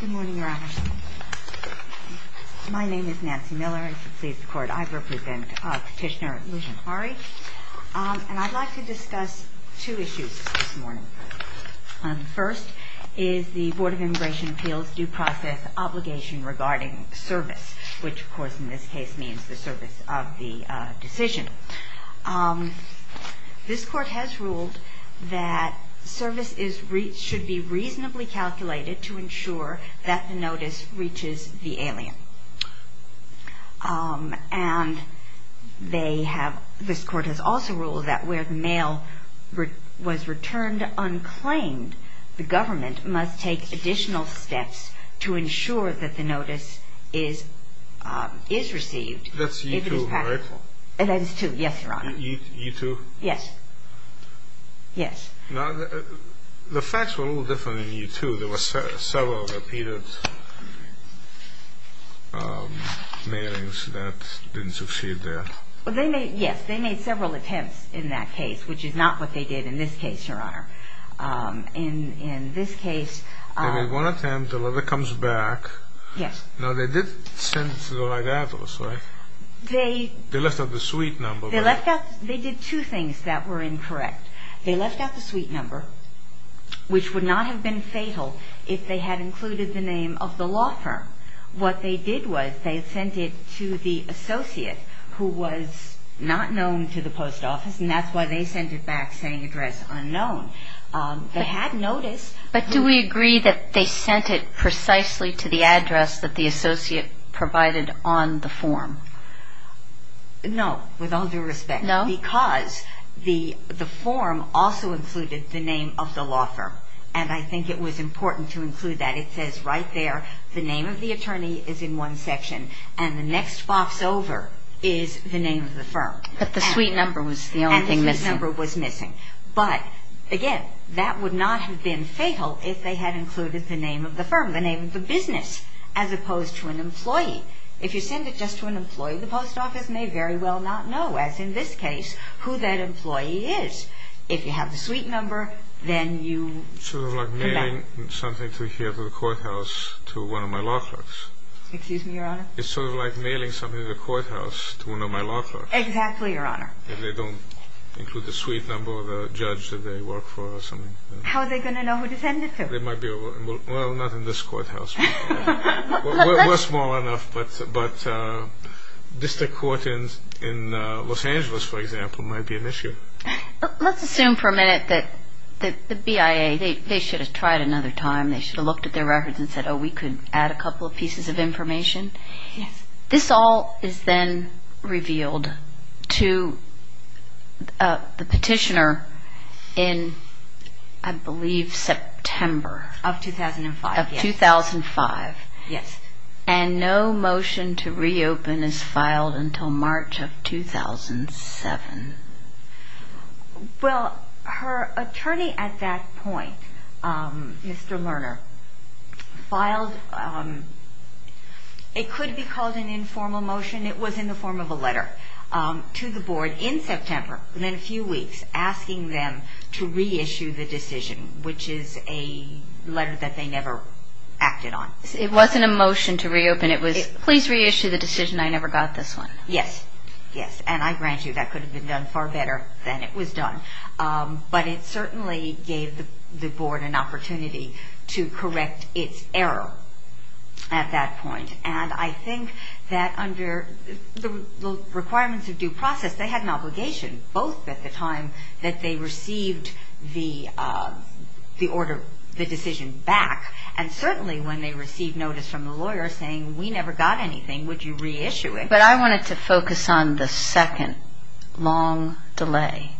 Good morning, Your Honor. My name is Nancy Miller, and to please the Court, I represent Petitioner Lusjahari. And I'd like to discuss two issues this morning. First is the Board of Immigration Appeals' due process obligation regarding service, which, of course, in this case means the service of the decision. This Court has ruled that service should be reasonably calculated to ensure that the notice reaches the alien. And this Court has also ruled that where the mail was returned unclaimed, the government must take additional steps to ensure that the notice is received. That's E-2, right? That is E-2, yes, Your Honor. E-2? Yes. Yes. Now, the facts were a little different in E-2. There were several repeated mailings that didn't succeed there. Yes, they made several attempts in that case, which is not what they did in this case, Your Honor. In this case... They made one attempt, the letter comes back. Yes. Now, they did send to the regattos, right? They... They left out the suite number, right? They left out the... They did two things that were incorrect. They left out the suite number, which would not have been fatal if they had included the name of the law firm. What they did was they had sent it to the associate, who was not known to the post office, and that's why they sent it back saying address unknown. They had notice. But do we agree that they sent it precisely to the address that the associate provided on the form? No, with all due respect. No? Because the form also included the name of the law firm, and I think it was important to include that. It says right there the name of the attorney is in one section, and the next box over is the name of the firm. But the suite number was the only thing missing. And the suite number was missing. But, again, that would not have been fatal if they had included the name of the firm, the name of the business, as opposed to an employee. If you send it just to an employee, the post office may very well not know, as in this case, who that employee is. If you have the suite number, then you... Sort of like mailing something to here to the courthouse to one of my law clerks. Excuse me, Your Honor? It's sort of like mailing something to the courthouse to one of my law clerks. Exactly, Your Honor. If they don't include the suite number of the judge that they work for or something. How are they going to know who to send it to? Well, not in this courthouse. We're small enough, but district court in Los Angeles, for example, might be an issue. Let's assume for a minute that the BIA, they should have tried another time. They should have looked at their records and said, oh, we could add a couple of pieces of information. Yes. This all is then revealed to the petitioner in, I believe, September. Of 2005. Of 2005. Yes. And no motion to reopen is filed until March of 2007. Well, her attorney at that point, Mr. Lerner, filed, it could be called an informal motion, it was in the form of a letter to the board in September, within a few weeks, asking them to reissue the decision, which is a letter that they never acted on. It wasn't a motion to reopen, it was, please reissue the decision, I never got this one. Yes. Yes. And I grant you that could have been done far better than it was done. But it certainly gave the board an opportunity to correct its error at that point. And I think that under the requirements of due process, they had an obligation, both at the time that they received the order, the decision back, and certainly when they received notice from the lawyer saying, we never got anything, would you reissue it? Okay, but I wanted to focus on the second long delay.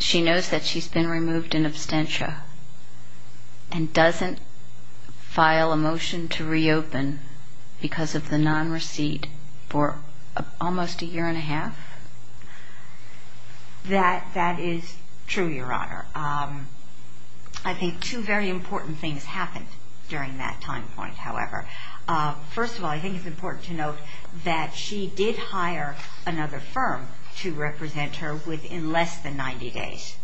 She knows that she's been removed in absentia, and doesn't file a motion to reopen because of the non-receipt for almost a year and a half? That is true, Your Honor. I think two very important things happened during that time point, however. First of all, I think it's important to note that she did hire another firm to represent her within less than 90 days.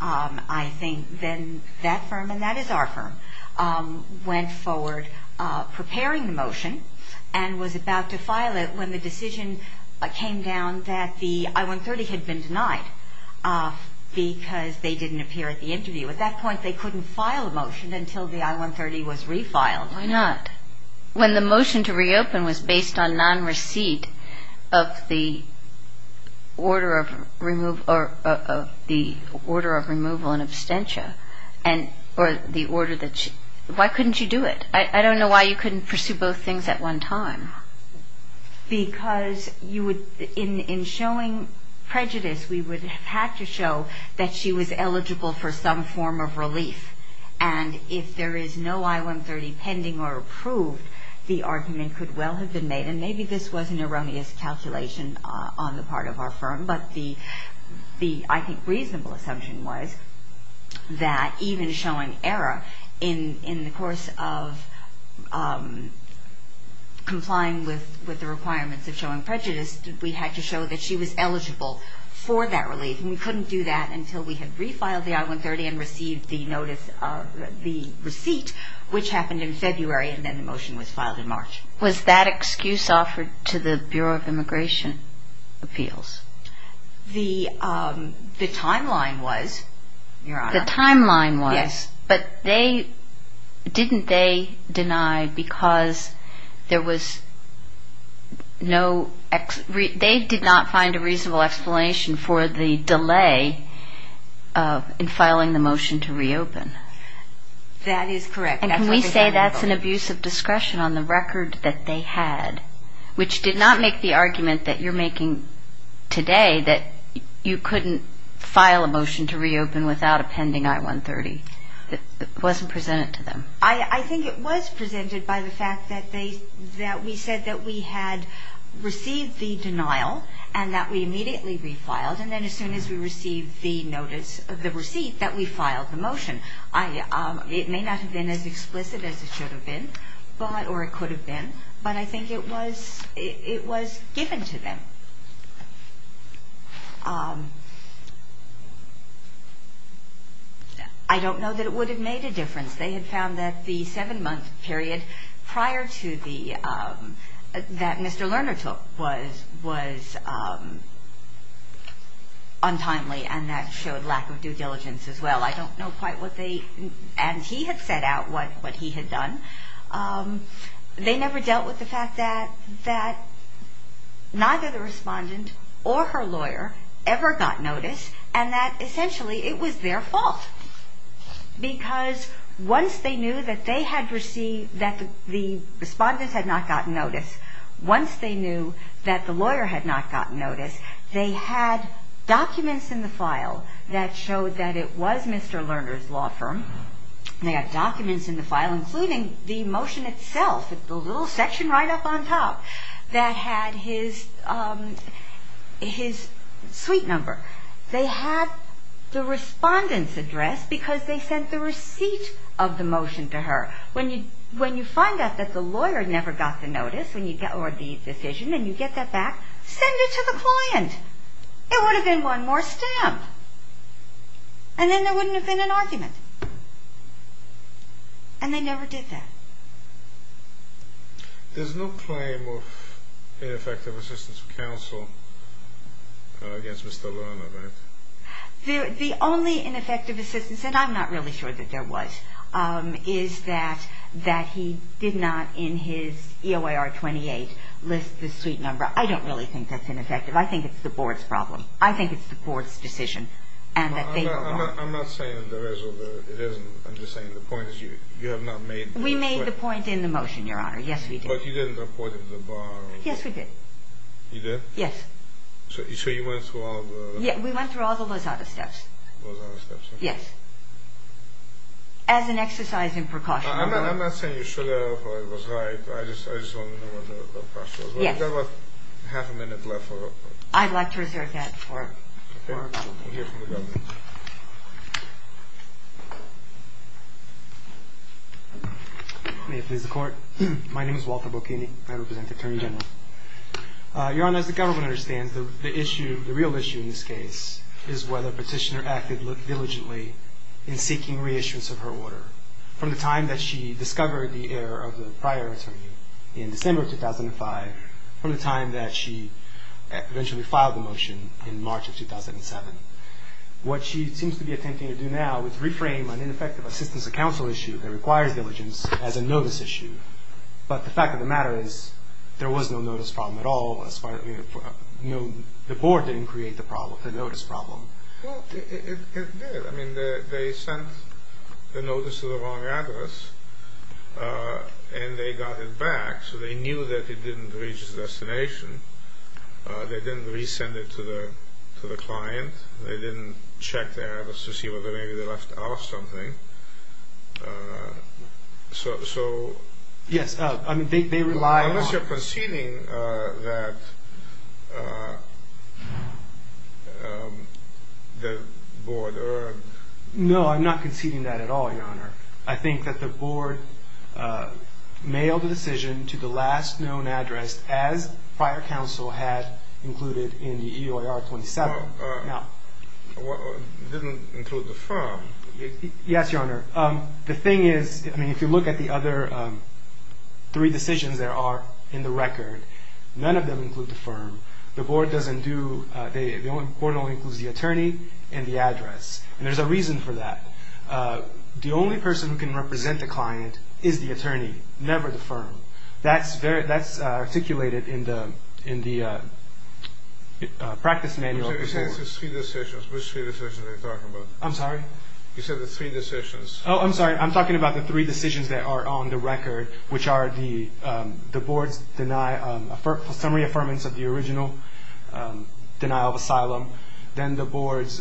I think then that firm, and that is our firm, went forward preparing the motion and was about to file it when the decision came down that the I-130 had been denied because they didn't appear at the interview. At that point, they couldn't file a motion until the I-130 was refiled. Why not? When the motion to reopen was based on non-receipt of the order of removal in absentia, why couldn't you do it? I don't know why you couldn't pursue both things at one time. Because in showing prejudice, we would have had to show that she was eligible for some form of relief. And if there is no I-130 pending or approved, the argument could well have been made, and maybe this was an erroneous calculation on the part of our firm, but the, I think, reasonable assumption was that even showing error, in the course of complying with the requirements of showing prejudice, we had to show that she was eligible for that relief. And we couldn't do that until we had refiled the I-130 and received the notice of the receipt, which happened in February, and then the motion was filed in March. Was that excuse offered to the Bureau of Immigration Appeals? The timeline was, Your Honor. The timeline was. Yes. But they, didn't they deny because there was no, they did not find a reasonable explanation for the delay in filing the motion to reopen? That is correct. And can we say that's an abuse of discretion on the record that they had, which did not make the argument that you're making today, that you couldn't file a motion to reopen without appending I-130? It wasn't presented to them? I think it was presented by the fact that they, that we said that we had received the denial and that we immediately refiled, and then as soon as we received the notice of the receipt, that we filed the motion. It may not have been as explicit as it should have been, or it could have been, but I think it was given to them. I don't know that it would have made a difference. They had found that the seven-month period prior to the, that Mr. Lerner took was untimely, and that showed lack of due diligence as well. I don't know quite what they, and he had set out what he had done. They never dealt with the fact that neither the respondent or her lawyer ever got notice, and that essentially it was their fault, because once they knew that they had received, that the respondent had not gotten notice, once they knew that the lawyer had not gotten notice, they had documents in the file that showed that it was Mr. Lerner's law firm. They had documents in the file including the motion itself, the little section right up on top that had his suite number. They had the respondent's address because they sent the receipt of the motion to her. When you find out that the lawyer never got the notice, or the decision, and you get that back, send it to the client. It would have been one more stamp, and then there wouldn't have been an argument, and they never did that. There's no claim of ineffective assistance of counsel against Mr. Lerner, right? The only ineffective assistance, and I'm not really sure that there was, is that he did not in his EOIR 28 list the suite number. I don't really think that's ineffective. I think it's the board's problem. I think it's the board's decision. I'm not saying there is or there isn't. I'm just saying the point is you have not made the point. We made the point in the motion, Your Honor. Yes, we did. But you didn't report it to the bar. Yes, we did. You did? Yes. So you went through all the… Yeah, we went through all the Lozada steps. Lozada steps, okay. Yes. As an exercise in precaution. I'm not saying you should have or it was right. I just want to know what the precautions were. Yes. We still have half a minute left. I'd like to reserve that for… Okay. We'll hear from the government. May it please the Court. My name is Walter Bocchini. I represent the Attorney General. Your Honor, as the government understands, the issue, the real issue in this case is whether Petitioner acted diligently in seeking reissuance of her order. From the time that she discovered the error of the prior attorney in December of 2005, from the time that she eventually filed the motion in March of 2007. What she seems to be attempting to do now is reframe an ineffective assistance of counsel issue that requires diligence as a notice issue. But the fact of the matter is there was no notice problem at all, as far as the board didn't create the problem, the notice problem. Well, it did. I mean, they sent the notice to the wrong address and they got it back, so they knew that it didn't reach its destination. They didn't resend it to the client. They didn't check the address to see whether maybe they left out something. So… Yes, I mean, they rely on… Are you conceding that the board… No, I'm not conceding that at all, Your Honor. I think that the board mailed the decision to the last known address as prior counsel had included in the EOIR-27. Well, it didn't include the firm. Yes, Your Honor. The thing is, I mean, if you look at the other three decisions there are in the record, none of them include the firm. The board doesn't do… The board only includes the attorney and the address, and there's a reason for that. The only person who can represent the client is the attorney, never the firm. That's articulated in the practice manual. You said it's three decisions. Which three decisions are you talking about? I'm sorry? You said it's three decisions. Oh, I'm sorry. I'm talking about the three decisions that are on the record, which are the board's summary affirmance of the original denial of asylum, then the board's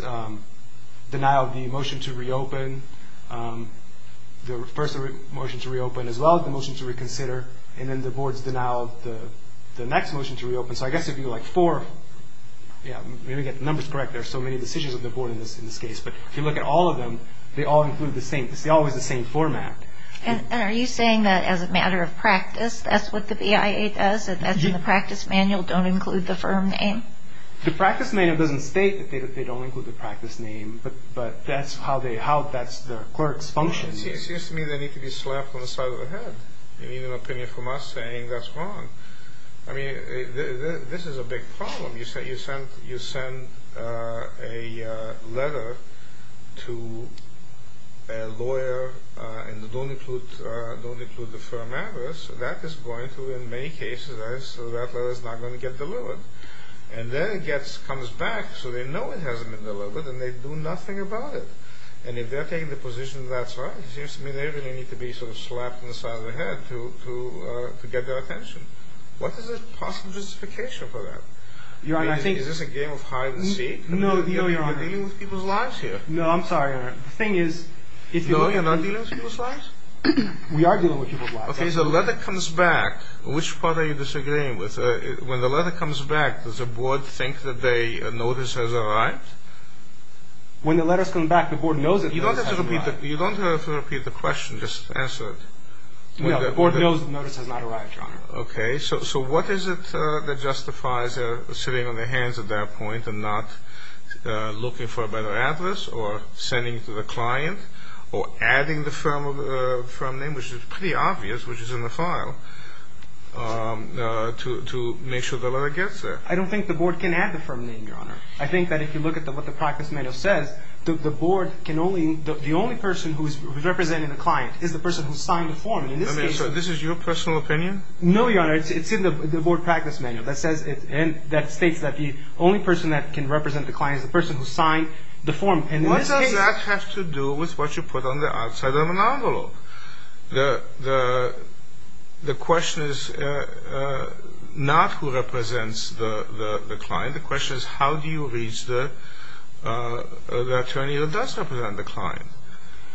denial of the motion to reopen, the first motion to reopen as well as the motion to reconsider, and then the board's denial of the next motion to reopen. So I guess it would be like four. Yeah, let me get the numbers correct. There are so many decisions of the board in this case. But if you look at all of them, they all include the same… It's always the same format. And are you saying that as a matter of practice, that's what the BIA does and that's in the practice manual, don't include the firm name? The practice manual doesn't state that they don't include the practice name, but that's how the clerks function. It seems to me that it could be slapped on the side of the head. You need an opinion from us saying that's wrong. I mean, this is a big problem. You send a letter to a lawyer and don't include the firm address. That is going to, in many cases, that letter is not going to get delivered. And then it comes back so they know it hasn't been delivered and they do nothing about it. And if they're taking the position that's right, it seems to me they really need to be slapped on the side of the head to get their attention. What is the possible justification for that? Your Honor, I think… Is this a game of hide and seek? No, Your Honor. You're dealing with people's lives here. No, I'm sorry, Your Honor. The thing is… No, you're not dealing with people's lives? We are dealing with people's lives. Okay, so the letter comes back. Which part are you disagreeing with? When the letter comes back, does the board think that the notice has arrived? When the letter's come back, the board knows it hasn't arrived. You don't have to repeat the question. Just answer it. No, the board knows the notice has not arrived, Your Honor. Okay, so what is it that justifies sitting on their hands at that point and not looking for a better address or sending it to the client or adding the firm name, which is pretty obvious, which is in the file, to make sure the letter gets there? I don't think the board can add the firm name, Your Honor. I think that if you look at what the practice manual says, the board can only… So this is your personal opinion? No, Your Honor. It's in the board practice manual that states that the only person that can represent the client is the person who signed the form. What does that have to do with what you put on the outside of an envelope? The question is not who represents the client. The question is how do you reach the attorney that does represent the client.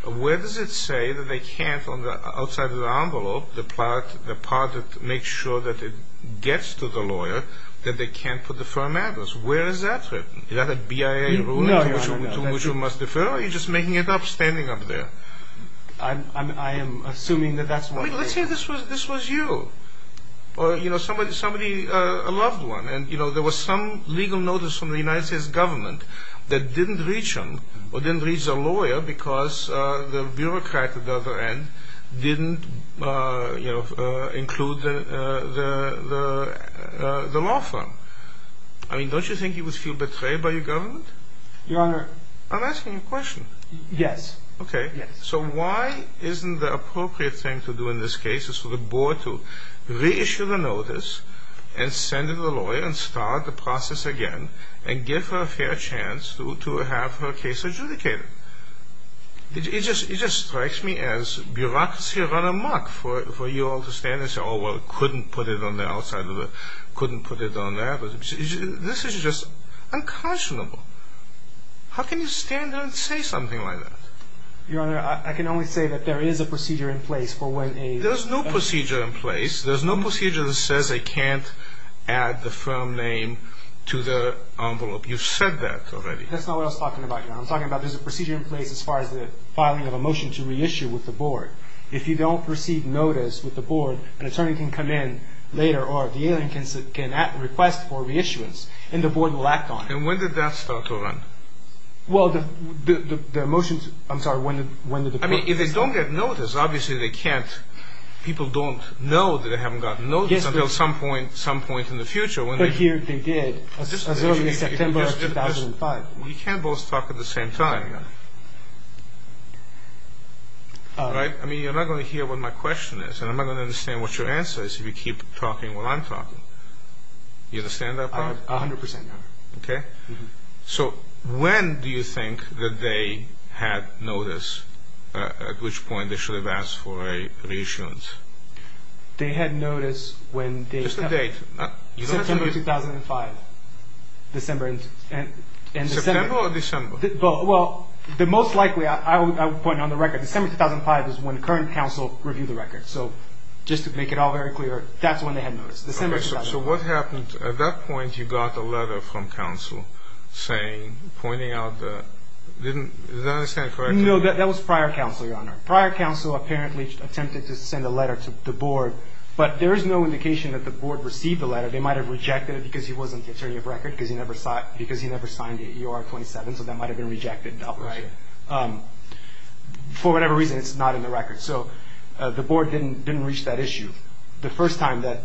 Where does it say that they can't on the outside of the envelope, the part that makes sure that it gets to the lawyer, that they can't put the firm address? Where is that written? Is that a BIA ruling? No, Your Honor. That's true. Or are you just making it up, standing up there? I am assuming that that's what it is. Let's say this was you or somebody, a loved one, and there was some legal notice from the United States government that didn't reach him or didn't reach the lawyer because the bureaucrat at the other end didn't include the law firm. I mean, don't you think he would feel betrayed by your government? Your Honor… I'm asking you a question. Yes. Okay. So why isn't the appropriate thing to do in this case is for the board to reissue the notice and send in the lawyer and start the process again and give her a fair chance to have her case adjudicated? It just strikes me as bureaucracy run amok for you all to stand and say, oh, well, couldn't put it on the outside of the… couldn't put it on that. This is just unconscionable. How can you stand there and say something like that? Your Honor, I can only say that there is a procedure in place for when a… There's no procedure in place. There's no procedure that says they can't add the firm name to the envelope. You've said that already. That's not what I was talking about, Your Honor. I was talking about there's a procedure in place as far as the filing of a motion to reissue with the board. If you don't receive notice with the board, an attorney can come in later or the alien can request for reissuance and the board will act on it. And when did that start to run? Well, the motions… I'm sorry, when did the board… I mean, if they don't get notice, obviously they can't. People don't know that they haven't gotten notice until some point in the future. But here they did as early as September of 2005. You can't both talk at the same time, Your Honor. All right? I mean, you're not going to hear what my question is and I'm not going to understand what your answer is if you keep talking while I'm talking. You understand that part? A hundred percent, Your Honor. Okay? So when do you think that they had notice at which point they should have asked for a reissuance? They had notice when they… Just the date. September 2005. December and… September or December? Well, the most likely, I would point on the record, December 2005 is when the current counsel reviewed the record. So just to make it all very clear, that's when they had notice. December 2005. So what happened? At that point, you got a letter from counsel saying, pointing out the… Did I understand it correctly? No, that was prior counsel, Your Honor. Prior counsel apparently attempted to send a letter to the board, but there is no indication that the board received the letter. They might have rejected it because he wasn't the attorney of record, because he never signed the EOR 27, so that might have been rejected. Right. For whatever reason, it's not in the record. So the board didn't reach that issue. The first time that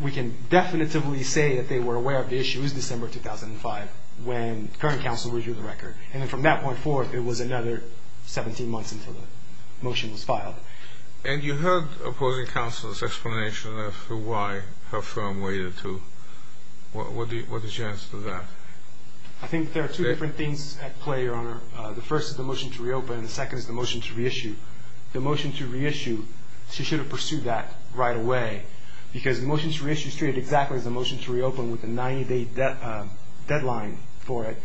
we can definitely say that they were aware of the issue is December 2005, when current counsel reviewed the record. And from that point forward, it was another 17 months until the motion was filed. And you heard opposing counsel's explanation of why her firm waited to… What is your answer to that? I think there are two different things at play, Your Honor. The first is the motion to reopen, and the second is the motion to reissue. The motion to reissue, she should have pursued that right away, because the motion to reissue is treated exactly as the motion to reopen with a 90-day deadline for it.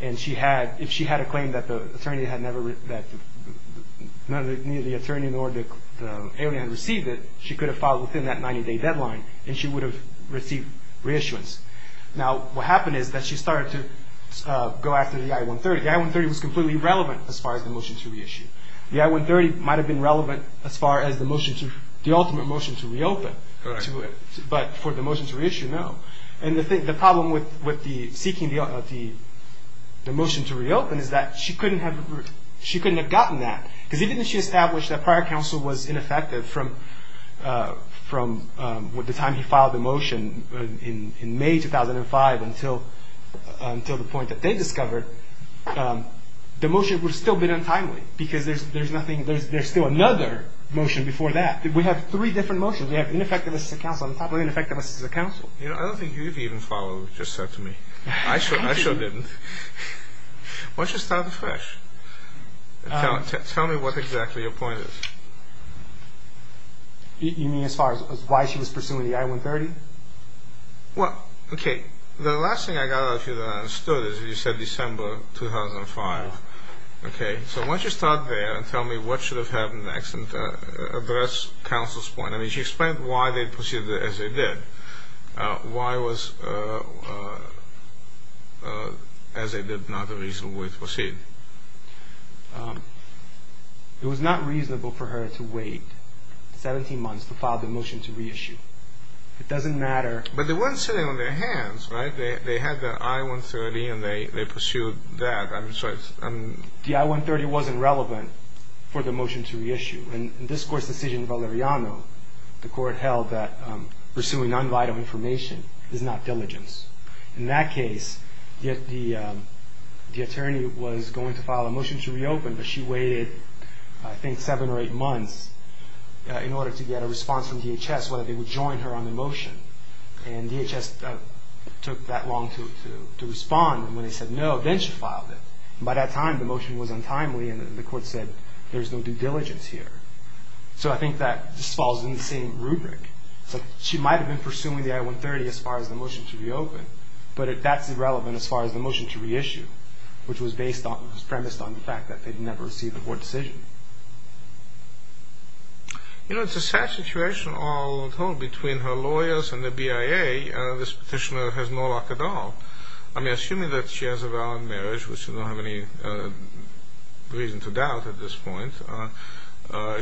And if she had a claim that neither the attorney nor the alien had received it, she could have filed within that 90-day deadline, and she would have received reissuance. Now, what happened is that she started to go after the I-130. The I-130 was completely irrelevant as far as the motion to reissue. The I-130 might have been relevant as far as the ultimate motion to reopen. But for the motion to reissue, no. And the problem with seeking the motion to reopen is that she couldn't have gotten that, because even if she established that prior counsel was ineffective from the time he filed the motion in May 2005 until the point that they discovered, the motion would have still been untimely, because there's still another motion before that. We have three different motions. We have ineffective as a counsel on top of ineffective as a counsel. I don't think you've even followed what you just said to me. I sure didn't. Why don't you start afresh? Tell me what exactly your point is. You mean as far as why she was pursuing the I-130? Well, okay, the last thing I got out of you that I understood is you said December 2005. Okay, so why don't you start there and tell me what should have happened next and address counsel's point. I mean, she explained why they proceeded as they did. Why was as they did not a reasonable way to proceed? It was not reasonable for her to wait 17 months to file the motion to reissue. It doesn't matter. But they weren't sitting on their hands, right? They had the I-130, and they pursued that. The I-130 wasn't relevant for the motion to reissue. In this Court's decision in Valeriano, the Court held that pursuing non-vital information is not diligence. In that case, the attorney was going to file a motion to reopen, but she waited I think seven or eight months in order to get a response from DHS whether they would join her on the motion. And DHS took that long to respond, and when they said no, then she filed it. By that time, the motion was untimely, and the Court said there's no due diligence here. So I think that this falls in the same rubric. She might have been pursuing the I-130 as far as the motion to reopen, but that's irrelevant as far as the motion to reissue, which was premised on the fact that they'd never received a court decision. You know, it's a sad situation all told between her lawyers and the BIA. This petitioner has no luck at all. I mean, assuming that she has a valid marriage, which you don't have any reason to doubt at this point,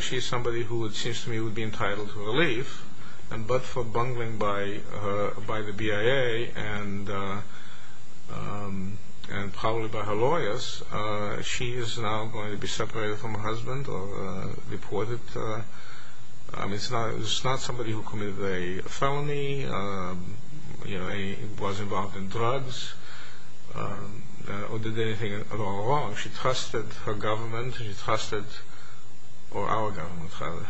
she's somebody who it seems to me would be entitled to relief, but for bungling by the BIA and probably by her lawyers, she is now going to be separated from her husband or reported. I mean, it's not somebody who committed a felony, you know, was involved in drugs, or did anything at all wrong. She trusted her government, or our government, rather,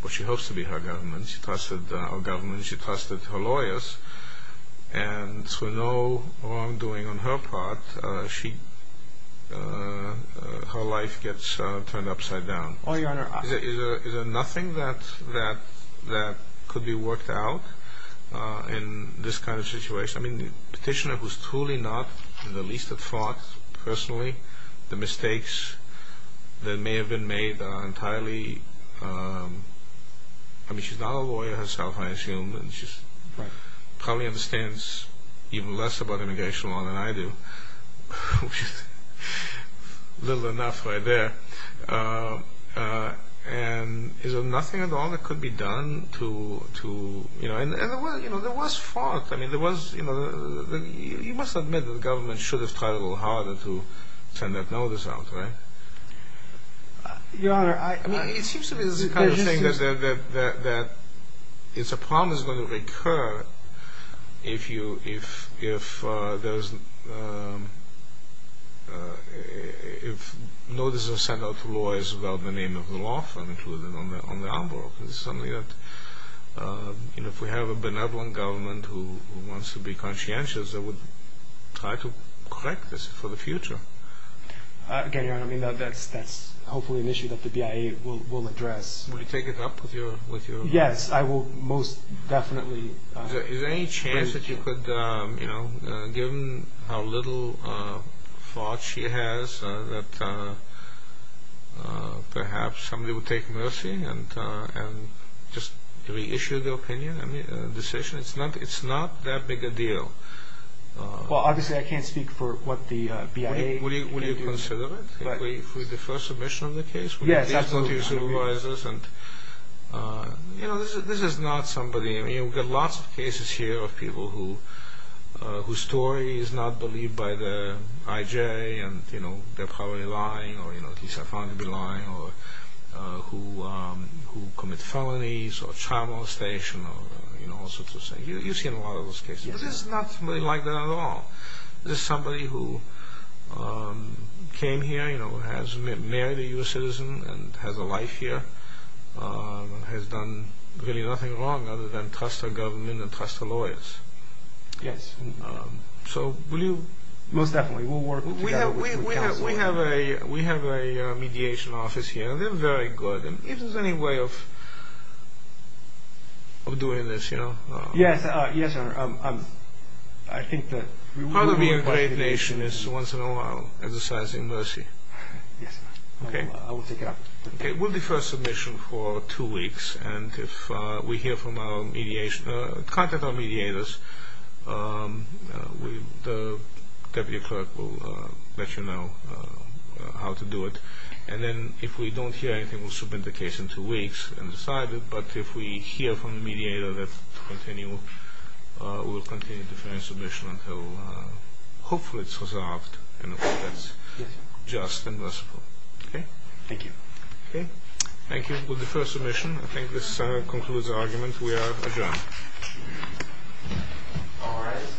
what she hopes to be her government. She trusted our government and she trusted her lawyers, and through no wrongdoing on her part, her life gets turned upside down. Is there nothing that could be worked out in this kind of situation? Yes, I mean, the petitioner was truly not the least at fault, personally. The mistakes that may have been made are entirely... I mean, she's not a lawyer herself, I assume, and she probably understands even less about immigration law than I do, which is little enough right there. And is there nothing at all that could be done to... I mean, there was fault. I mean, you must admit that the government should have tried a little harder to send that notice out, right? Your Honor, I... I mean, it seems to me there's a kind of thing that it's a problem that's going to recur if notices are sent out to lawyers without the name of the law firm included on the envelope. It's something that, you know, if we have a benevolent government who wants to be conscientious, they would try to correct this for the future. Again, Your Honor, I mean, that's hopefully an issue that the BIA will address. Will you take it up with your... Yes, I will most definitely. Is there any chance that you could, you know, given how little thought she has, that perhaps somebody would take mercy and just reissue the opinion, the decision? It's not that big a deal. Well, obviously I can't speak for what the BIA can do. Will you consider it? If we defer submission of the case? Yes, absolutely. You know, this is not somebody... I mean, we've got lots of cases here of people whose story is not believed by the IJ and, you know, they're probably lying or, you know, at least I found them to be lying or who commit felonies or child molestation or, you know, all sorts of things. You've seen a lot of those cases. But it's not really like that at all. This is somebody who came here, you know, has married a U.S. citizen and has a life here, has done really nothing wrong other than trust her government and trust her lawyers. Yes. So will you... Most definitely. We'll work together. We have a mediation office here. They're very good. And if there's any way of doing this, you know... Yes. Yes, sir. I think that... Part of being a great nation is once in a while exercising mercy. Yes, sir. Okay. I will take it up. Okay. We'll defer submission for two weeks. And if we hear from our mediation... contact our mediators, the deputy clerk will let you know how to do it. And then if we don't hear anything, we'll submit the case in two weeks and decide it. But if we hear from the mediator that to continue, we'll continue deferring submission until hopefully it's resolved. And that's just and merciful. Okay. Thank you. Okay. Thank you. We'll defer submission. I think this concludes the argument. We are adjourned. All rise. Thank you.